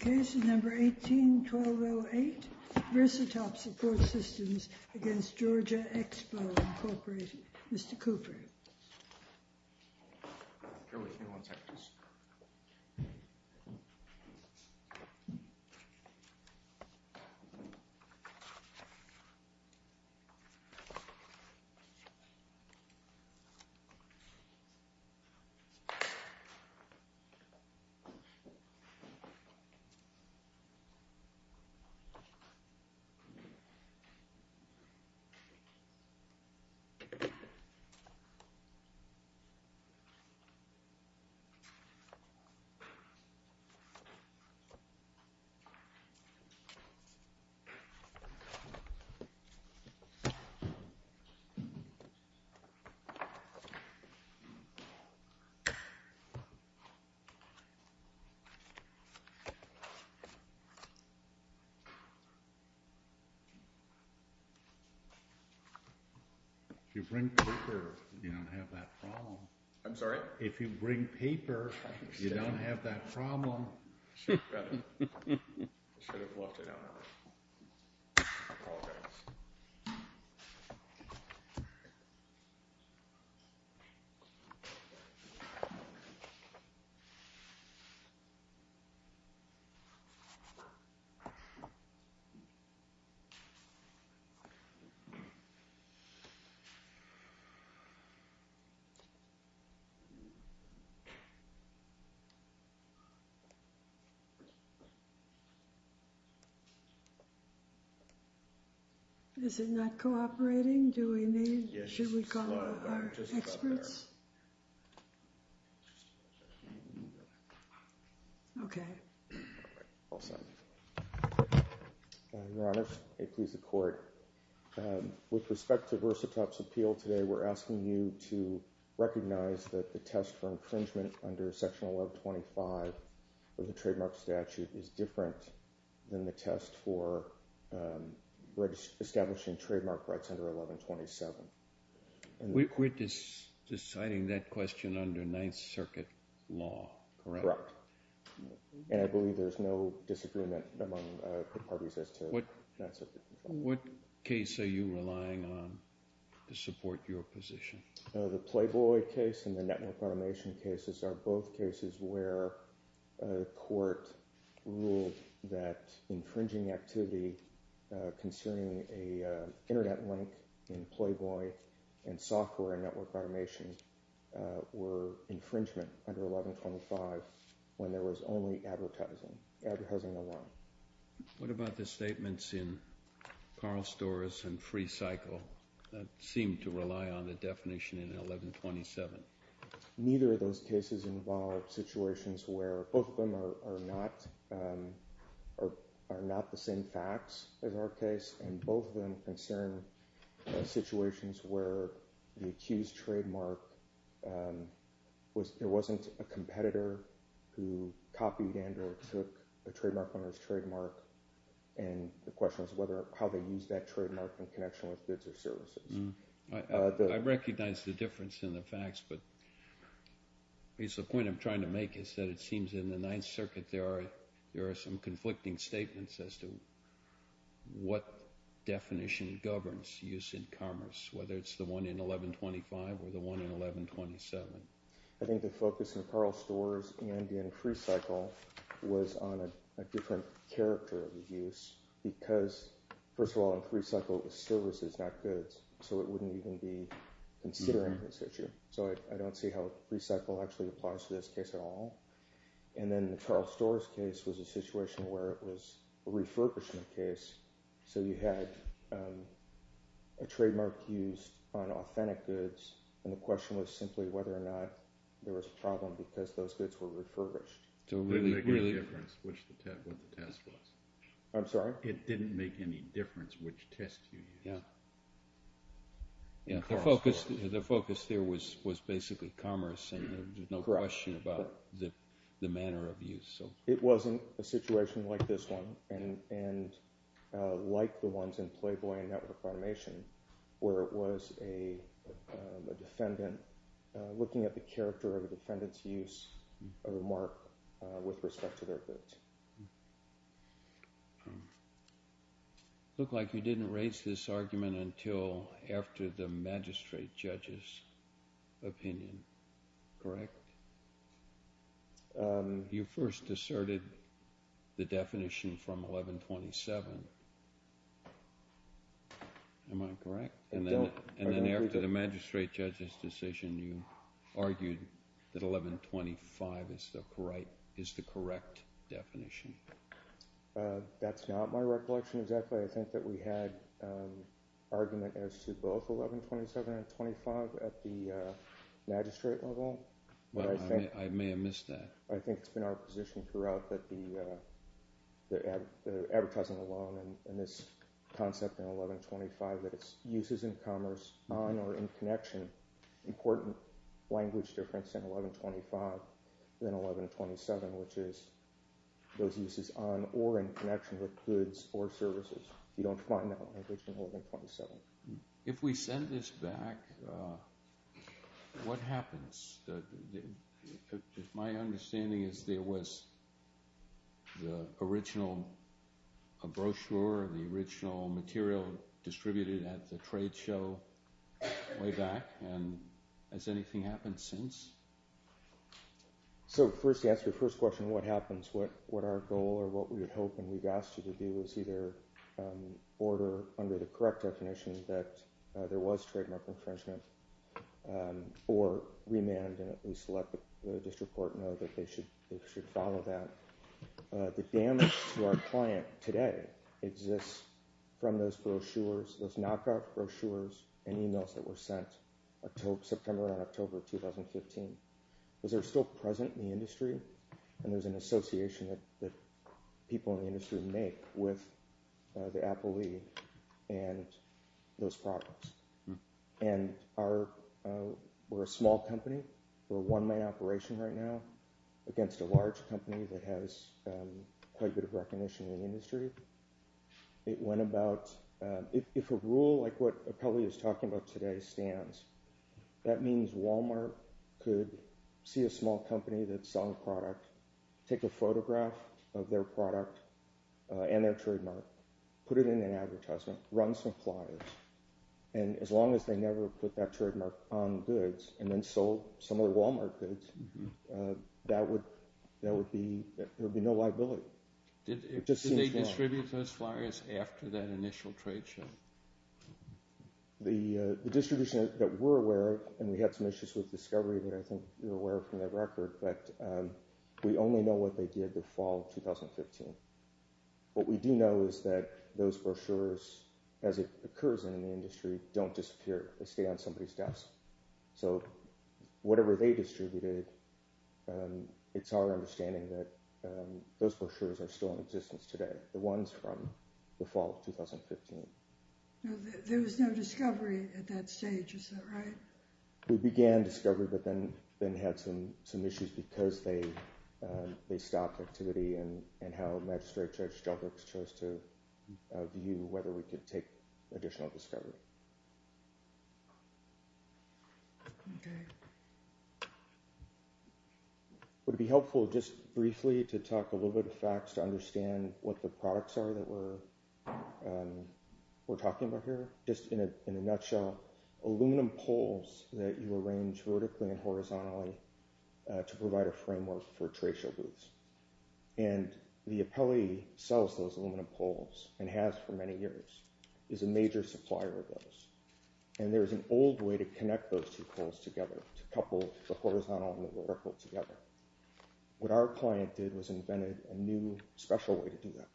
Case No. 18-1208, VersaTop Support Systems v. Georgia Expo, Inc. Mr. Cooper. If you bring paper, you don't have that problem. I'm sorry? Is it not cooperating? Do we need? Should we call our experts? Okay. All set. Your Honor. May it please the Court. With respect to VersaTop's appeal today, we're asking you to recognize that the test for infringement under Section 1125 of the trademark statute is different than the test for establishing trademark rights under 1127. We're deciding that question under Ninth Circuit law, correct? Correct. And I believe there's no disagreement among the parties as to Ninth Circuit. What case are you relying on to support your position? The Playboy case and the network automation cases are both cases where a court ruled that internet link in Playboy and software and network automation were infringement under 1125 when there was only advertising, advertising alone. What about the statements in Carl Storrs and Free Cycle that seemed to rely on the definition in 1127? Neither of those cases involved situations where both of them are not the same facts as our case, and both of them concern situations where the accused trademark, there wasn't a competitor who copied and or took a trademark owner's trademark, and the question is whether or how they used that trademark in connection with goods or services. I recognize the difference in the facts, but at least the point I'm trying to make is that it seems in the Ninth Circuit there are some conflicting statements as to what definition governs use in commerce, whether it's the one in 1125 or the one in 1127. I think the focus in Carl Storrs and in Free Cycle was on a different character of use because, first of all, in Free Cycle the service is not goods, so it wouldn't even be considering this issue. So I don't see how Free Cycle actually applies to this case at all. And then the Carl Storrs case was a situation where it was a refurbishment case, so you had a trademark used on authentic goods, and the question was simply whether or not there was a problem because those goods were refurbished. It didn't make any difference what the test was. I'm sorry? It didn't make any difference which test you used. The focus there was basically commerce and there was no question about the manner of use. It wasn't a situation like this one and like the ones in Playboy and Network Foundation where it was a defendant looking at the character of a defendant's use of a mark with respect to their goods. It looked like you didn't raise this argument until after the magistrate judge's opinion. Correct? You first asserted the definition from 1127. Am I correct? I don't. In the magistrate judge's decision, you argued that 1125 is the correct definition. That's not my recollection exactly. I think that we had argument as to both 1127 and 125 at the magistrate level. I may have missed that. I think it's been our position throughout that the advertising alone and this concept in 1125 that it's uses in commerce on or in connection, important language difference in 1125 than 1127 which is those uses on or in connection with goods or services. You don't find that language in 1127. If we send this back, what happens? My understanding is there was the original brochure, the original material distributed at the trade show way back. Has anything happened since? To answer your first question, what happens? What our goal or what we would hope and we've asked you to do is either order under the district court know that they should follow that. The damage to our client today exists from those brochures, those knockoff brochures and emails that were sent September and October 2015. Those are still present in the industry and there's an association that people in the industry make with the appellee and those products. We're a small company. We're a one-man operation right now against a large company that has quite a bit of recognition in the industry. If a rule like what the appellee is talking about today stands, that means Walmart could see a small company that's selling a product, take a photograph of their product and their And as long as they never put that trademark on goods and then sold some of the Walmart goods, there would be no liability. Did they distribute those flyers after that initial trade show? The distribution that we're aware of and we had some issues with discovery that I think you're aware of from that record, but we only know what they did the fall of 2015. What we do know is that those brochures, as it occurs in the industry, don't disappear. They stay on somebody's desk. So whatever they distributed, it's our understanding that those brochures are still in existence today, the ones from the fall of 2015. There was no discovery at that stage, is that right? We began discovery but then had some issues because they stopped activity and how Magistrate Judge Stelbrooks chose to view whether we could take additional discovery. Would it be helpful just briefly to talk a little bit of facts to understand what the products are that we're talking about here? Just in a nutshell, aluminum poles that you arrange vertically and horizontally to provide a framework for tracial booths. And the appellee sells those aluminum poles and has for many years, is a major supplier of those. And there's an old way to connect those two poles together, to couple the horizontal and the vertical together. What our client did was invented a new special way to do that.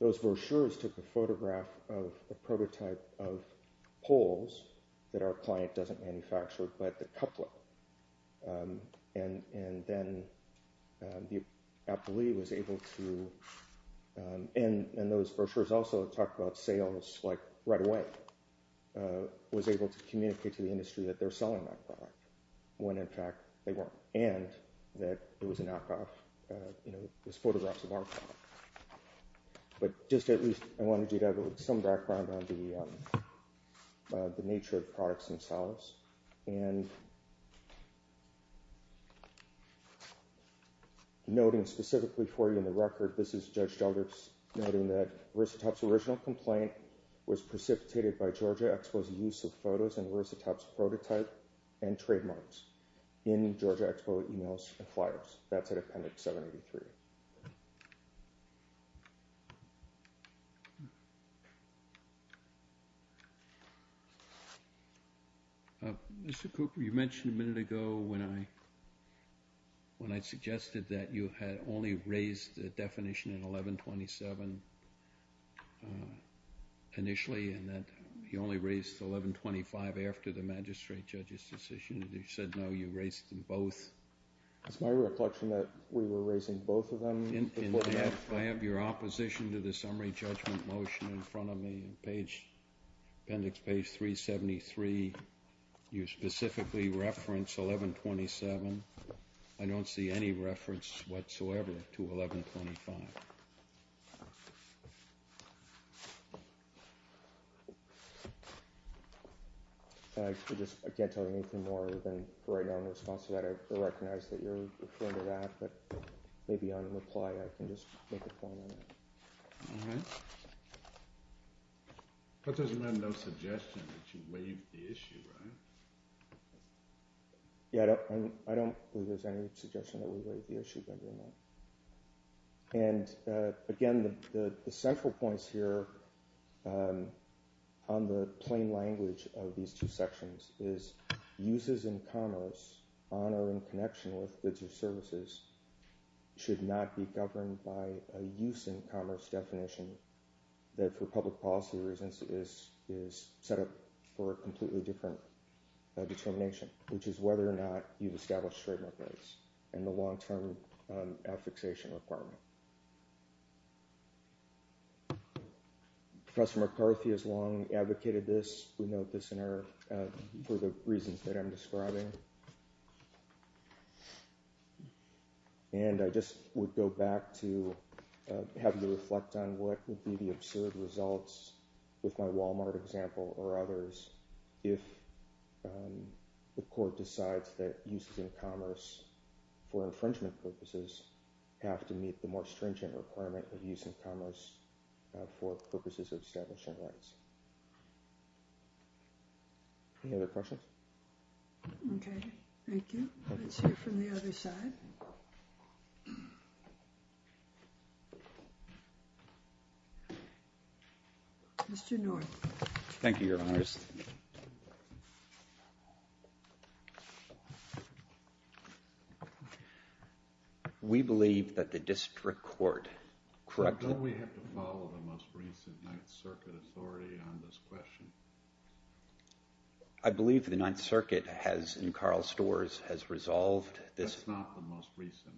Those brochures took a photograph of a prototype of poles that our client doesn't manufacture, but the couplet. And then the appellee was able to, and those brochures also talk about sales like right away, was able to communicate to the industry that they're selling that product, when in fact they weren't. And that it was a knockoff. You know, it was photographs of our product. But just at least I wanted you to have some background on the nature of products themselves. And noting specifically for you in the record, this is Judge Stelbrooks noting that Risitop's original complaint was precipitated by Georgia Expo's use of photos in Risitop's prototype and trademarks in Georgia Expo emails and flyers. That's at Appendix 783. Mr. Cooper, you mentioned a minute ago when I suggested that you had only raised the definition in 1127 initially, and that you only raised 1125 after the magistrate judge's decision, and you said no, you raised them both. It's my reflection that we were raising both of them before that. I have your opposition to the summary judgment motion in front of me in Appendix 373. You specifically reference 1127. I don't see any reference whatsoever to 1125. I can't tell you anything more than right now in response to that. I recognize that you're referring to that, but maybe on a reply I can just make a point on that. All right. But there's been no suggestion that you waived the issue, right? Yeah, I don't believe there's any suggestion that we waived the issue. And, again, the central points here on the plain language of these two sections is uses in commerce honoring connection with goods or services should not be governed by a use in commerce definition that for public policy reasons is set up for a completely different determination, which is whether or not you've established trade markets and the long-term affixation requirement. Professor McCarthy has long advocated this. We note this for the reasons that I'm describing. And I just would go back to having to reflect on what would be the absurd results with my Walmart example or others if the court decides that uses in commerce for infringement purposes have to meet the more stringent requirement of use in commerce for purposes of establishing rights. Any other questions? Okay, thank you. Let's hear from the other side. Mr. North. Thank you, Your Honor. We believe that the district court, correct? Don't we have to follow the most recent Ninth Circuit authority on this question? I believe the Ninth Circuit has, in Carl Storrs, has resolved this. That's not the most recent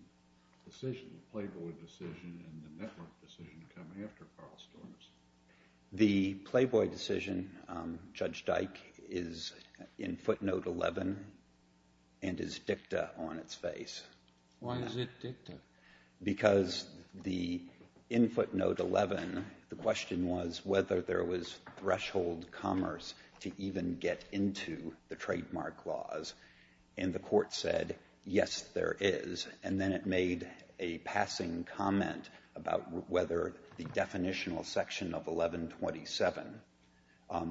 decision. The Playboy decision and the network decision come after Carl Storrs. The Playboy decision, Judge Dyke, is in footnote 11 and is dicta on its face. Why is it dicta? Because the in footnote 11, the question was whether there was threshold commerce to even get into the trademark laws. And the court said, yes, there is. And then it made a passing comment about whether the definitional section of 1127,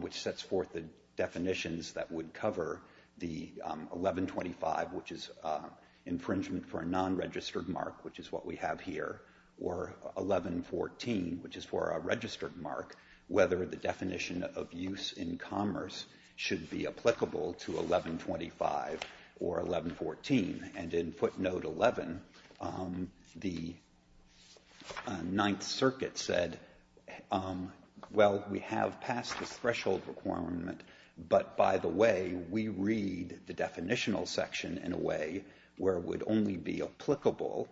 which sets forth the definitions that would cover the 1125, which is infringement for a non-registered mark, which is what we have here, or 1114, which is for a registered mark, whether the definition of use in commerce should be applicable to 1125 or 1114. And in footnote 11, the Ninth Circuit said, well, we have passed this threshold requirement, but by the way, we read the definitional section in a way where it would only be applicable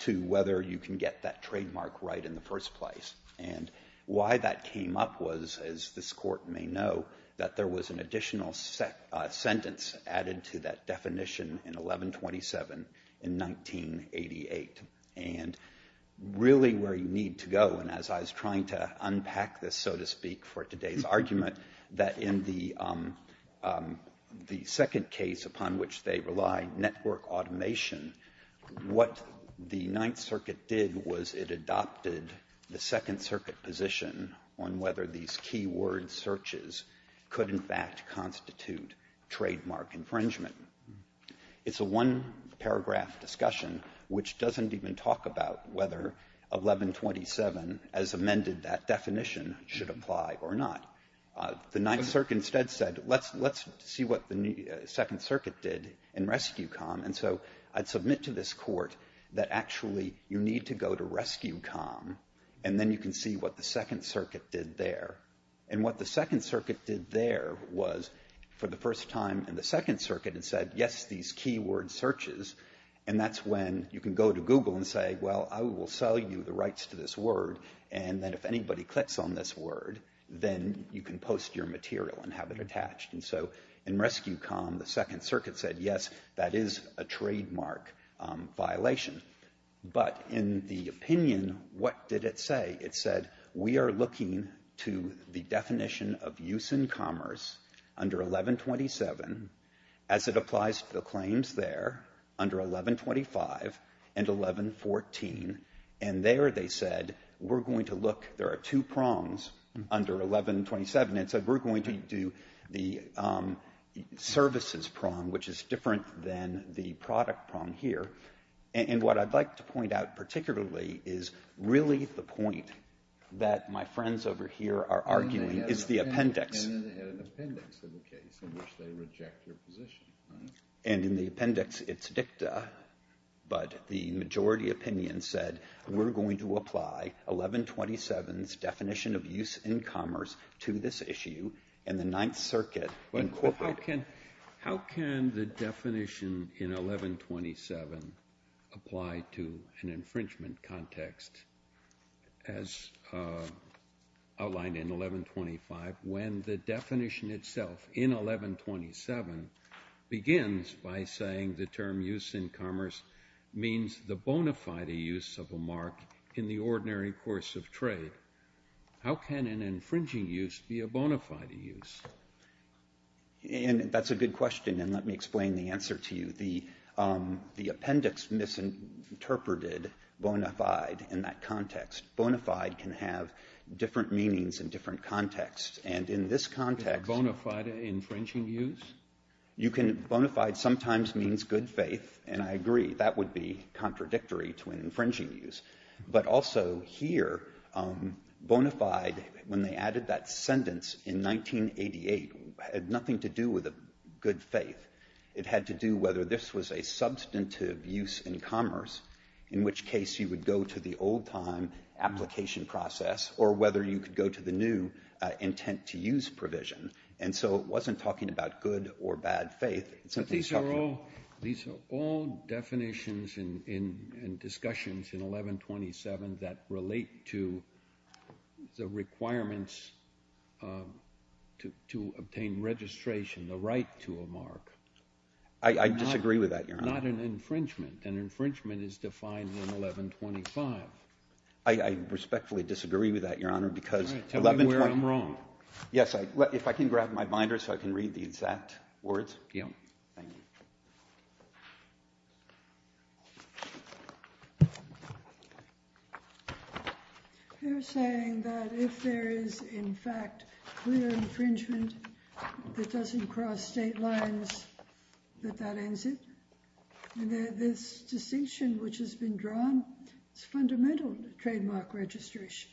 to whether you can get that trademark right in the first place. And why that came up was, as this Court may know, that there was an additional sentence added to that definition in 1127 in 1988. And really where you need to go, and as I was trying to unpack this, so to speak, for today's argument, that in the second case upon which they relied, network automation, what the Ninth Circuit did was it adopted the Second Circuit position on whether these key word searches could, in fact, constitute trademark infringement. It's a one-paragraph discussion which doesn't even talk about whether 1127, as amended, that definition should apply or not. The Ninth Circuit instead said, let's see what the Second Circuit did in RescueCom, and so I'd submit to this Court that actually you need to go to RescueCom, and then you can see what the Second Circuit did there. And what the Second Circuit did there was, for the first time in the Second Circuit, it said, yes, these key word searches, and that's when you can go to Google and say, well, I will sell you the rights to this word, and then if anybody clicks on this word, then you can post your material and have it attached. And so in RescueCom, the Second Circuit said, yes, that is a trademark violation. But in the opinion, what did it say? It said, we are looking to the definition of use in commerce under 1127 as it applies under 1125 and 1114. And there they said, we're going to look, there are two prongs under 1127. It said, we're going to do the services prong, which is different than the product prong here. And what I'd like to point out particularly is really the point that my friends over here are arguing is the appendix. And then they had an appendix of the case in which they reject your position. And in the appendix, it's dicta, but the majority opinion said, we're going to apply 1127's definition of use in commerce to this issue, and the Ninth Circuit incorporated How can the definition in 1127 apply to an infringement context as outlined in 1125 when the definition itself in 1127 begins by saying the term use in commerce means the bona fide use of a mark in the ordinary course of trade? How can an infringing use be a bona fide use? And that's a good question, and let me explain the answer to you. The appendix misinterpreted bona fide in that context. Bona fide can have different meanings in different contexts, and in this context Bona fide infringing use? You can bona fide sometimes means good faith, and I agree that would be contradictory to an infringing use. But also here, bona fide, when they added that sentence in 1988, had nothing to do with a good faith. It had to do whether this was a substantive use in commerce, in which case you would go to the old-time application process, or whether you could go to the new intent to use provision. And so it wasn't talking about good or bad faith. It's something that's talking about. These are all definitions and discussions in 1127 that relate to the requirements to obtain registration, the right to a mark. I disagree with that, Your Honor. Not an infringement. An infringement is defined in 1125. I respectfully disagree with that, Your Honor, because 1125. All right. Tell me where I'm wrong. Yes. If I can grab my binder so I can read the exact words. Yeah. Thank you. They're saying that if there is, in fact, clear infringement that doesn't cross state lines, that that ends it. This distinction which has been drawn is fundamental to trademark registration.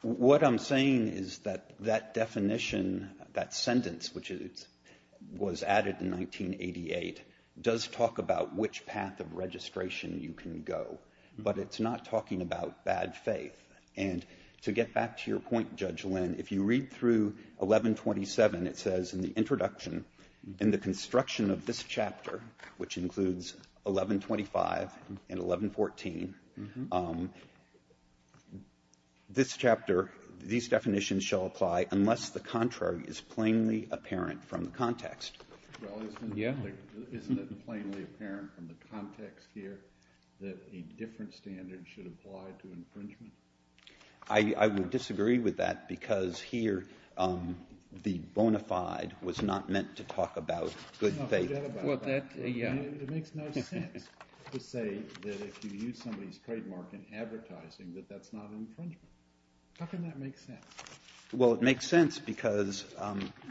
What I'm saying is that that definition, that sentence, which was added in 1988, does talk about which path of registration you can go. But it's not talking about bad faith. And to get back to your point, Judge Lynn, if you read through 1127, it says, in the introduction, in the construction of this chapter, which includes 1125 and 1114, this chapter, these definitions shall apply unless the contrary is plainly apparent from the context. Well, isn't it plainly apparent from the context here that a different standard should apply to infringement? I would disagree with that because here the bona fide was not meant to talk about good faith. Well, that, yeah. It makes no sense to say that if you use somebody's trademark in advertising that that's not infringement. How can that make sense? Well, it makes sense because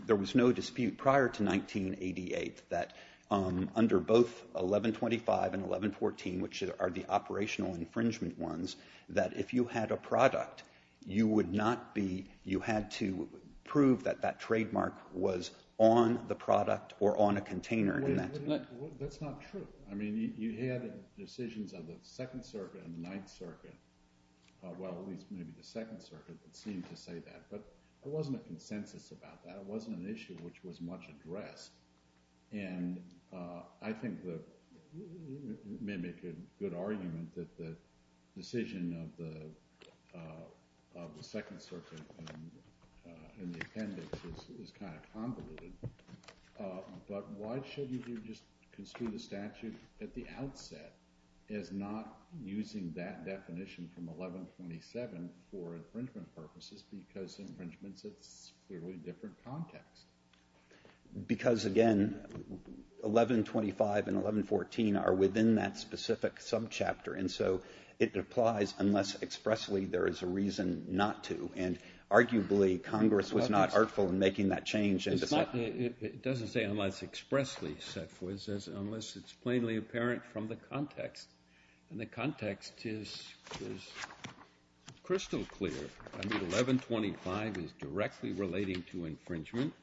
there was no dispute prior to 1988 that under both 1125 and 1114, which are the operational infringement ones, that if you had a product, you would not be, you had to prove that that trademark was on the product or on a container in that. That's not true. I mean, you had decisions on the Second Circuit and the Ninth Circuit, well, at least maybe the Second Circuit, that seemed to say that. But there wasn't a consensus about that. It wasn't an issue which was much addressed. And I think that you may make a good argument that the decision of the Second Circuit in the appendix is kind of convoluted. But why should you just construe the statute at the outset as not using that definition from 1127 for infringement purposes because infringement sits clearly in a different context? Because, again, 1125 and 1114 are within that specific subchapter. And so it applies unless expressly there is a reason not to. And arguably, Congress was not artful in making that change. It doesn't say unless expressly, unless it's plainly apparent from the context. And the context is crystal clear. I mean, 1125 is directly relating to infringement.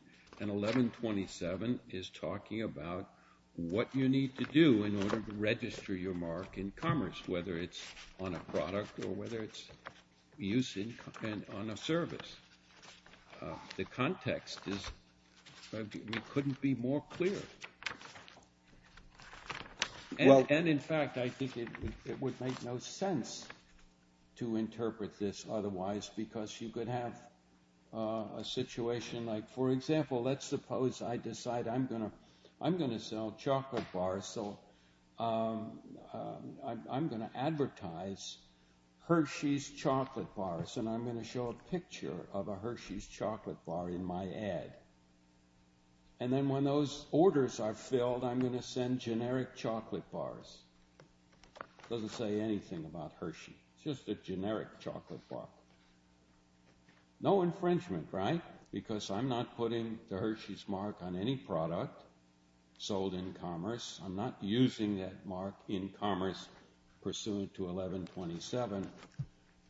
And 1127 is talking about what you need to do in order to register your mark in commerce, whether it's on a product or whether it's used on a service. The context is we couldn't be more clear. And, in fact, I think it would make no sense to interpret this otherwise because you could have a situation like, for example, let's suppose I decide I'm going to sell chocolate bars, so I'm going to advertise Hershey's chocolate bars, and I'm going to show a picture of a Hershey's chocolate bar in my ad. And then when those orders are filled, I'm going to send generic chocolate bars. It doesn't say anything about Hershey. It's just a generic chocolate bar. No infringement, right? Because I'm not putting the Hershey's mark on any product sold in commerce. I'm not using that mark in commerce pursuant to 1127.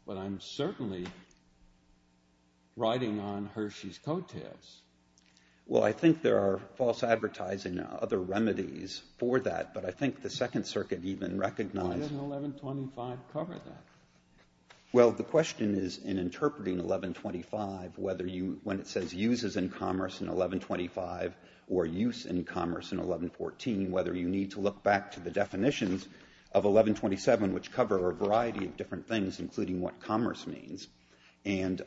But I'm certainly writing on Hershey's coattails. Well, I think there are false advertising and other remedies for that, but I think the Second Circuit even recognized that. Why doesn't 1125 cover that? Well, the question is in interpreting 1125, whether you when it says uses in commerce in 1125 or use in commerce in 1114, whether you need to look back to the definitions of 1127, which cover a variety of different things, including what commerce means, and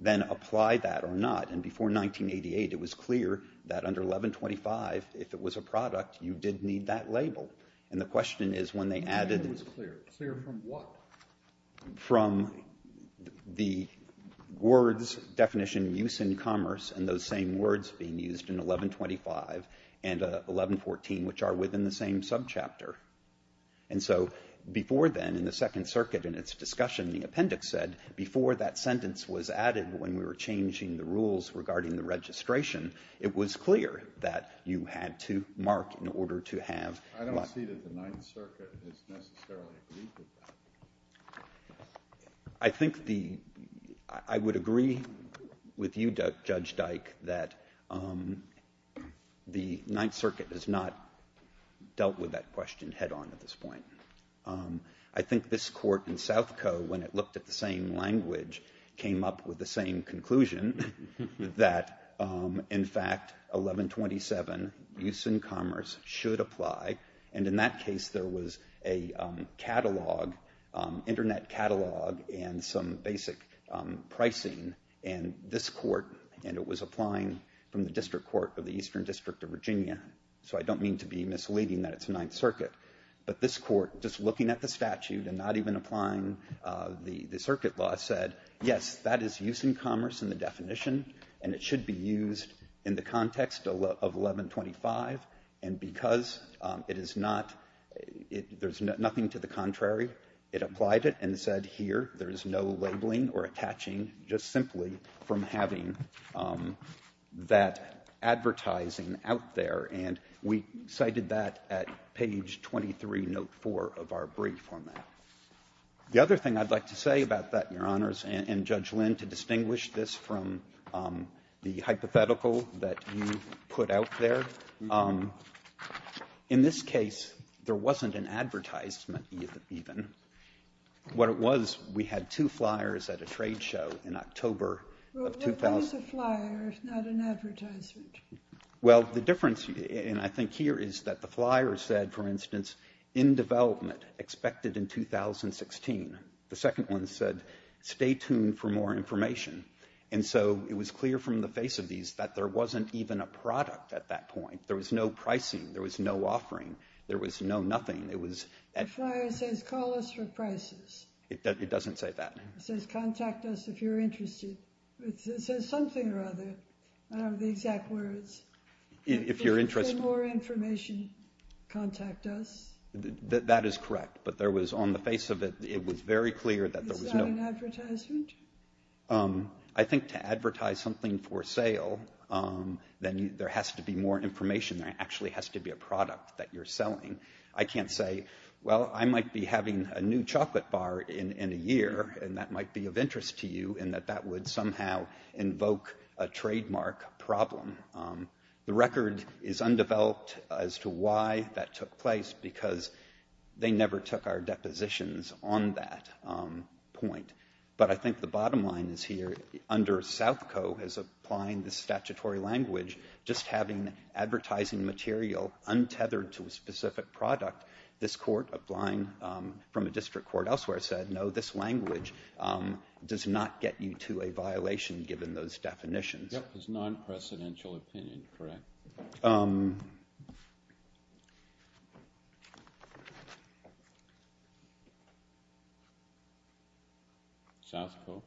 then apply that or not. And before 1988, it was clear that under 1125, if it was a product, you did need that label. And the question is when they added... It was clear. Clear from what? From the words definition, use in commerce, and those same words being used in 1125 and 1114, which are within the same subchapter. And so before then, in the Second Circuit, in its discussion, the appendix said before that sentence was added, when we were changing the rules regarding the registration, it was clear that you had to mark in order to have... I don't see that the Ninth Circuit has necessarily agreed with that. I think the... I would agree with you, Judge Dyke, that the Ninth Circuit has not dealt with that question head on at this point. I think this Court in South Coe, when it looked at the same language, came up with the same conclusion that, in fact, 1127, use in commerce, should apply. And in that case, there was a catalog, internet catalog, and some basic pricing. And this Court, and it was applying from the District Court of the Eastern District of Virginia. So I don't mean to be misleading that it's Ninth Circuit. But this Court, just looking at the statute and not even applying the circuit law, said, yes, that is use in commerce in the definition, and it should be used in the context of 1125. And because it is not, there's nothing to the contrary, it applied it and said, here, there is no labeling or attaching just simply from having that advertising out there. And we cited that at page 23, note 4 of our brief on that. The other thing I'd like to say about that, Your Honors, and, Judge Lynn, to distinguish this from the hypothetical that you put out there, in this case, there wasn't an advertisement even. What it was, we had two flyers at a trade show in October of 2000. Well, what is a flyer if not an advertisement? Well, the difference, and I think here, is that the flyer said, for instance, in development, expected in 2016. The second one said, stay tuned for more information. And so, it was clear from the face of these that there wasn't even a product at that point. There was no pricing. There was no offering. There was no nothing. It was at. The flyer says, call us for prices. It doesn't say that. It says, contact us if you're interested. It says something or other. I don't know the exact words. If you're interested. For more information, contact us. That is correct. But there was, on the face of it, it was very clear that there was no. Is that an advertisement? I think to advertise something for sale, then there has to be more information. There actually has to be a product that you're selling. I can't say, well, I might be having a new chocolate bar in a year, and that might be of interest to you, and that that would somehow invoke a trademark problem. The record is undeveloped as to why that took place, because they never took our depositions on that point. But I think the bottom line is here, under Southco, as applying the statutory language, just having advertising material untethered to a specific product, this Court, applying from a district court elsewhere, said, no, this language does not get you to a violation given those definitions. That was non-presidential opinion, correct? Southco?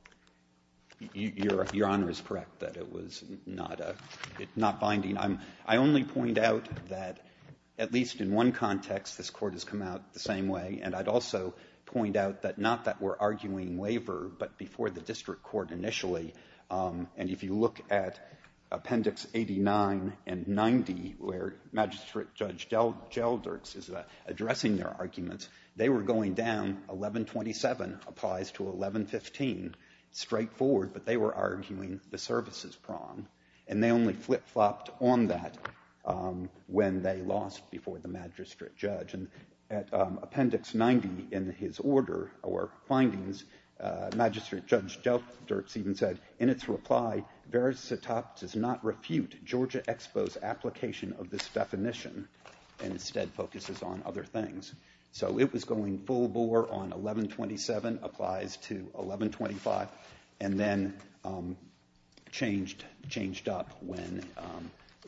Your Honor is correct that it was not binding. I only point out that, at least in one context, this Court has come out the same way, and I'd also point out that not that we're arguing waiver, but before the Court, at Appendix 89 and 90, where Magistrate Judge Gelderts is addressing their arguments, they were going down, 1127 applies to 1115, straightforward, but they were arguing the services prong. And they only flip-flopped on that when they lost before the magistrate judge. And at Appendix 90, in his order or findings, Magistrate Judge Gelderts even said, in its reply, Verasitop does not refute Georgia Expo's application of this definition and instead focuses on other things. So it was going full bore on 1127 applies to 1125, and then changed up when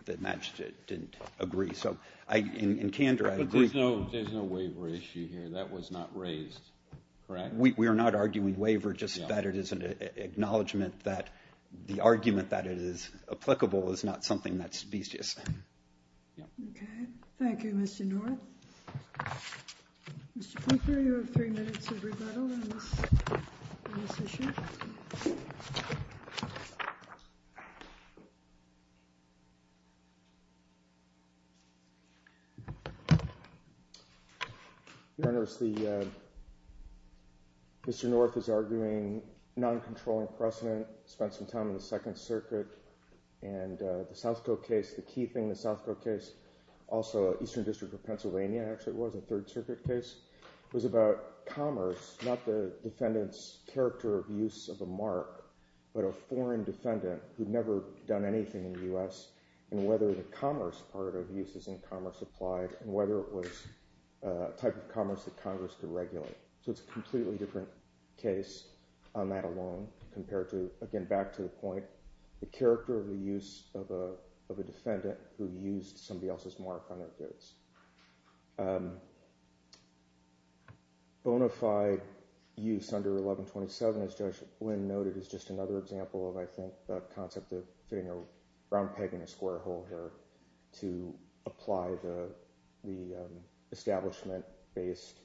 the magistrate didn't agree. So in candor, I agree. But there's no waiver issue here. That was not raised, correct? We are not arguing waiver, just that it is an acknowledgment that the argument that it is applicable is not something that's specious. Okay. Thank you, Mr. North. Mr. Pinker, you have three minutes of rebuttal on this issue. Thank you. Your Honors, Mr. North is arguing non-controlling precedent, spent some time on the Second Circuit. And the Southcote case, the key thing in the Southcote case, also Eastern District of Pennsylvania, actually it was, a Third Circuit case, was about commerce, not the defendant's character of use of a mark, but a foreign defendant who'd never done anything in the U.S., and whether the commerce part of use is in-commerce applied, and whether it was a type of commerce that Congress could regulate. So it's a completely different case on that alone compared to, again, back to the point, the character of the use of a defendant who used somebody else's mark on their goods. Bonafide use under 1127, as Judge Blinn noted, is just another example of, I think, the concept of fitting a round peg in a square hole here to apply the establishment-based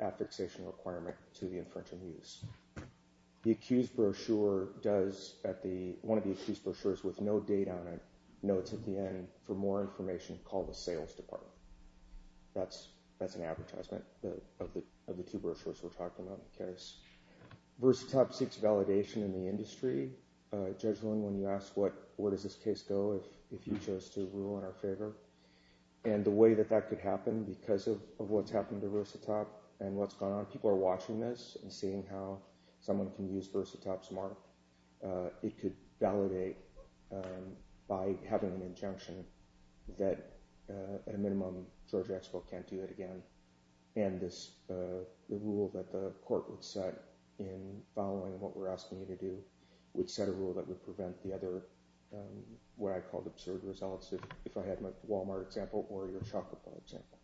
affixation requirement to the infringement use. The accused brochure does at the, one of the accused brochures with no date on it, notes at the end, for more information, call the sales department. That's an advertisement of the two brochures we're talking about in the case. Versatop seeks validation in the industry. Judge Blinn, when you asked, where does this case go if you chose to rule in our favor? And the way that that could happen, because of what's happened to Versatop and what's gone on, people are watching this and seeing how someone can use by having an injunction that, at a minimum, Georgia Expo can't do it again. And the rule that the court would set in following what we're asking you to do would set a rule that would prevent the other, what I call absurd results, if I had my Walmart example or your Chocolate Bar example.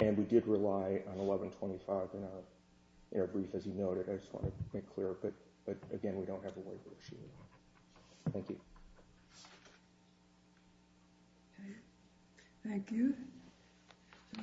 And we did rely on 1125 in our brief, as you noted. I just want to make clear, but, again, we don't have a waiver machine. Thank you. Thank you.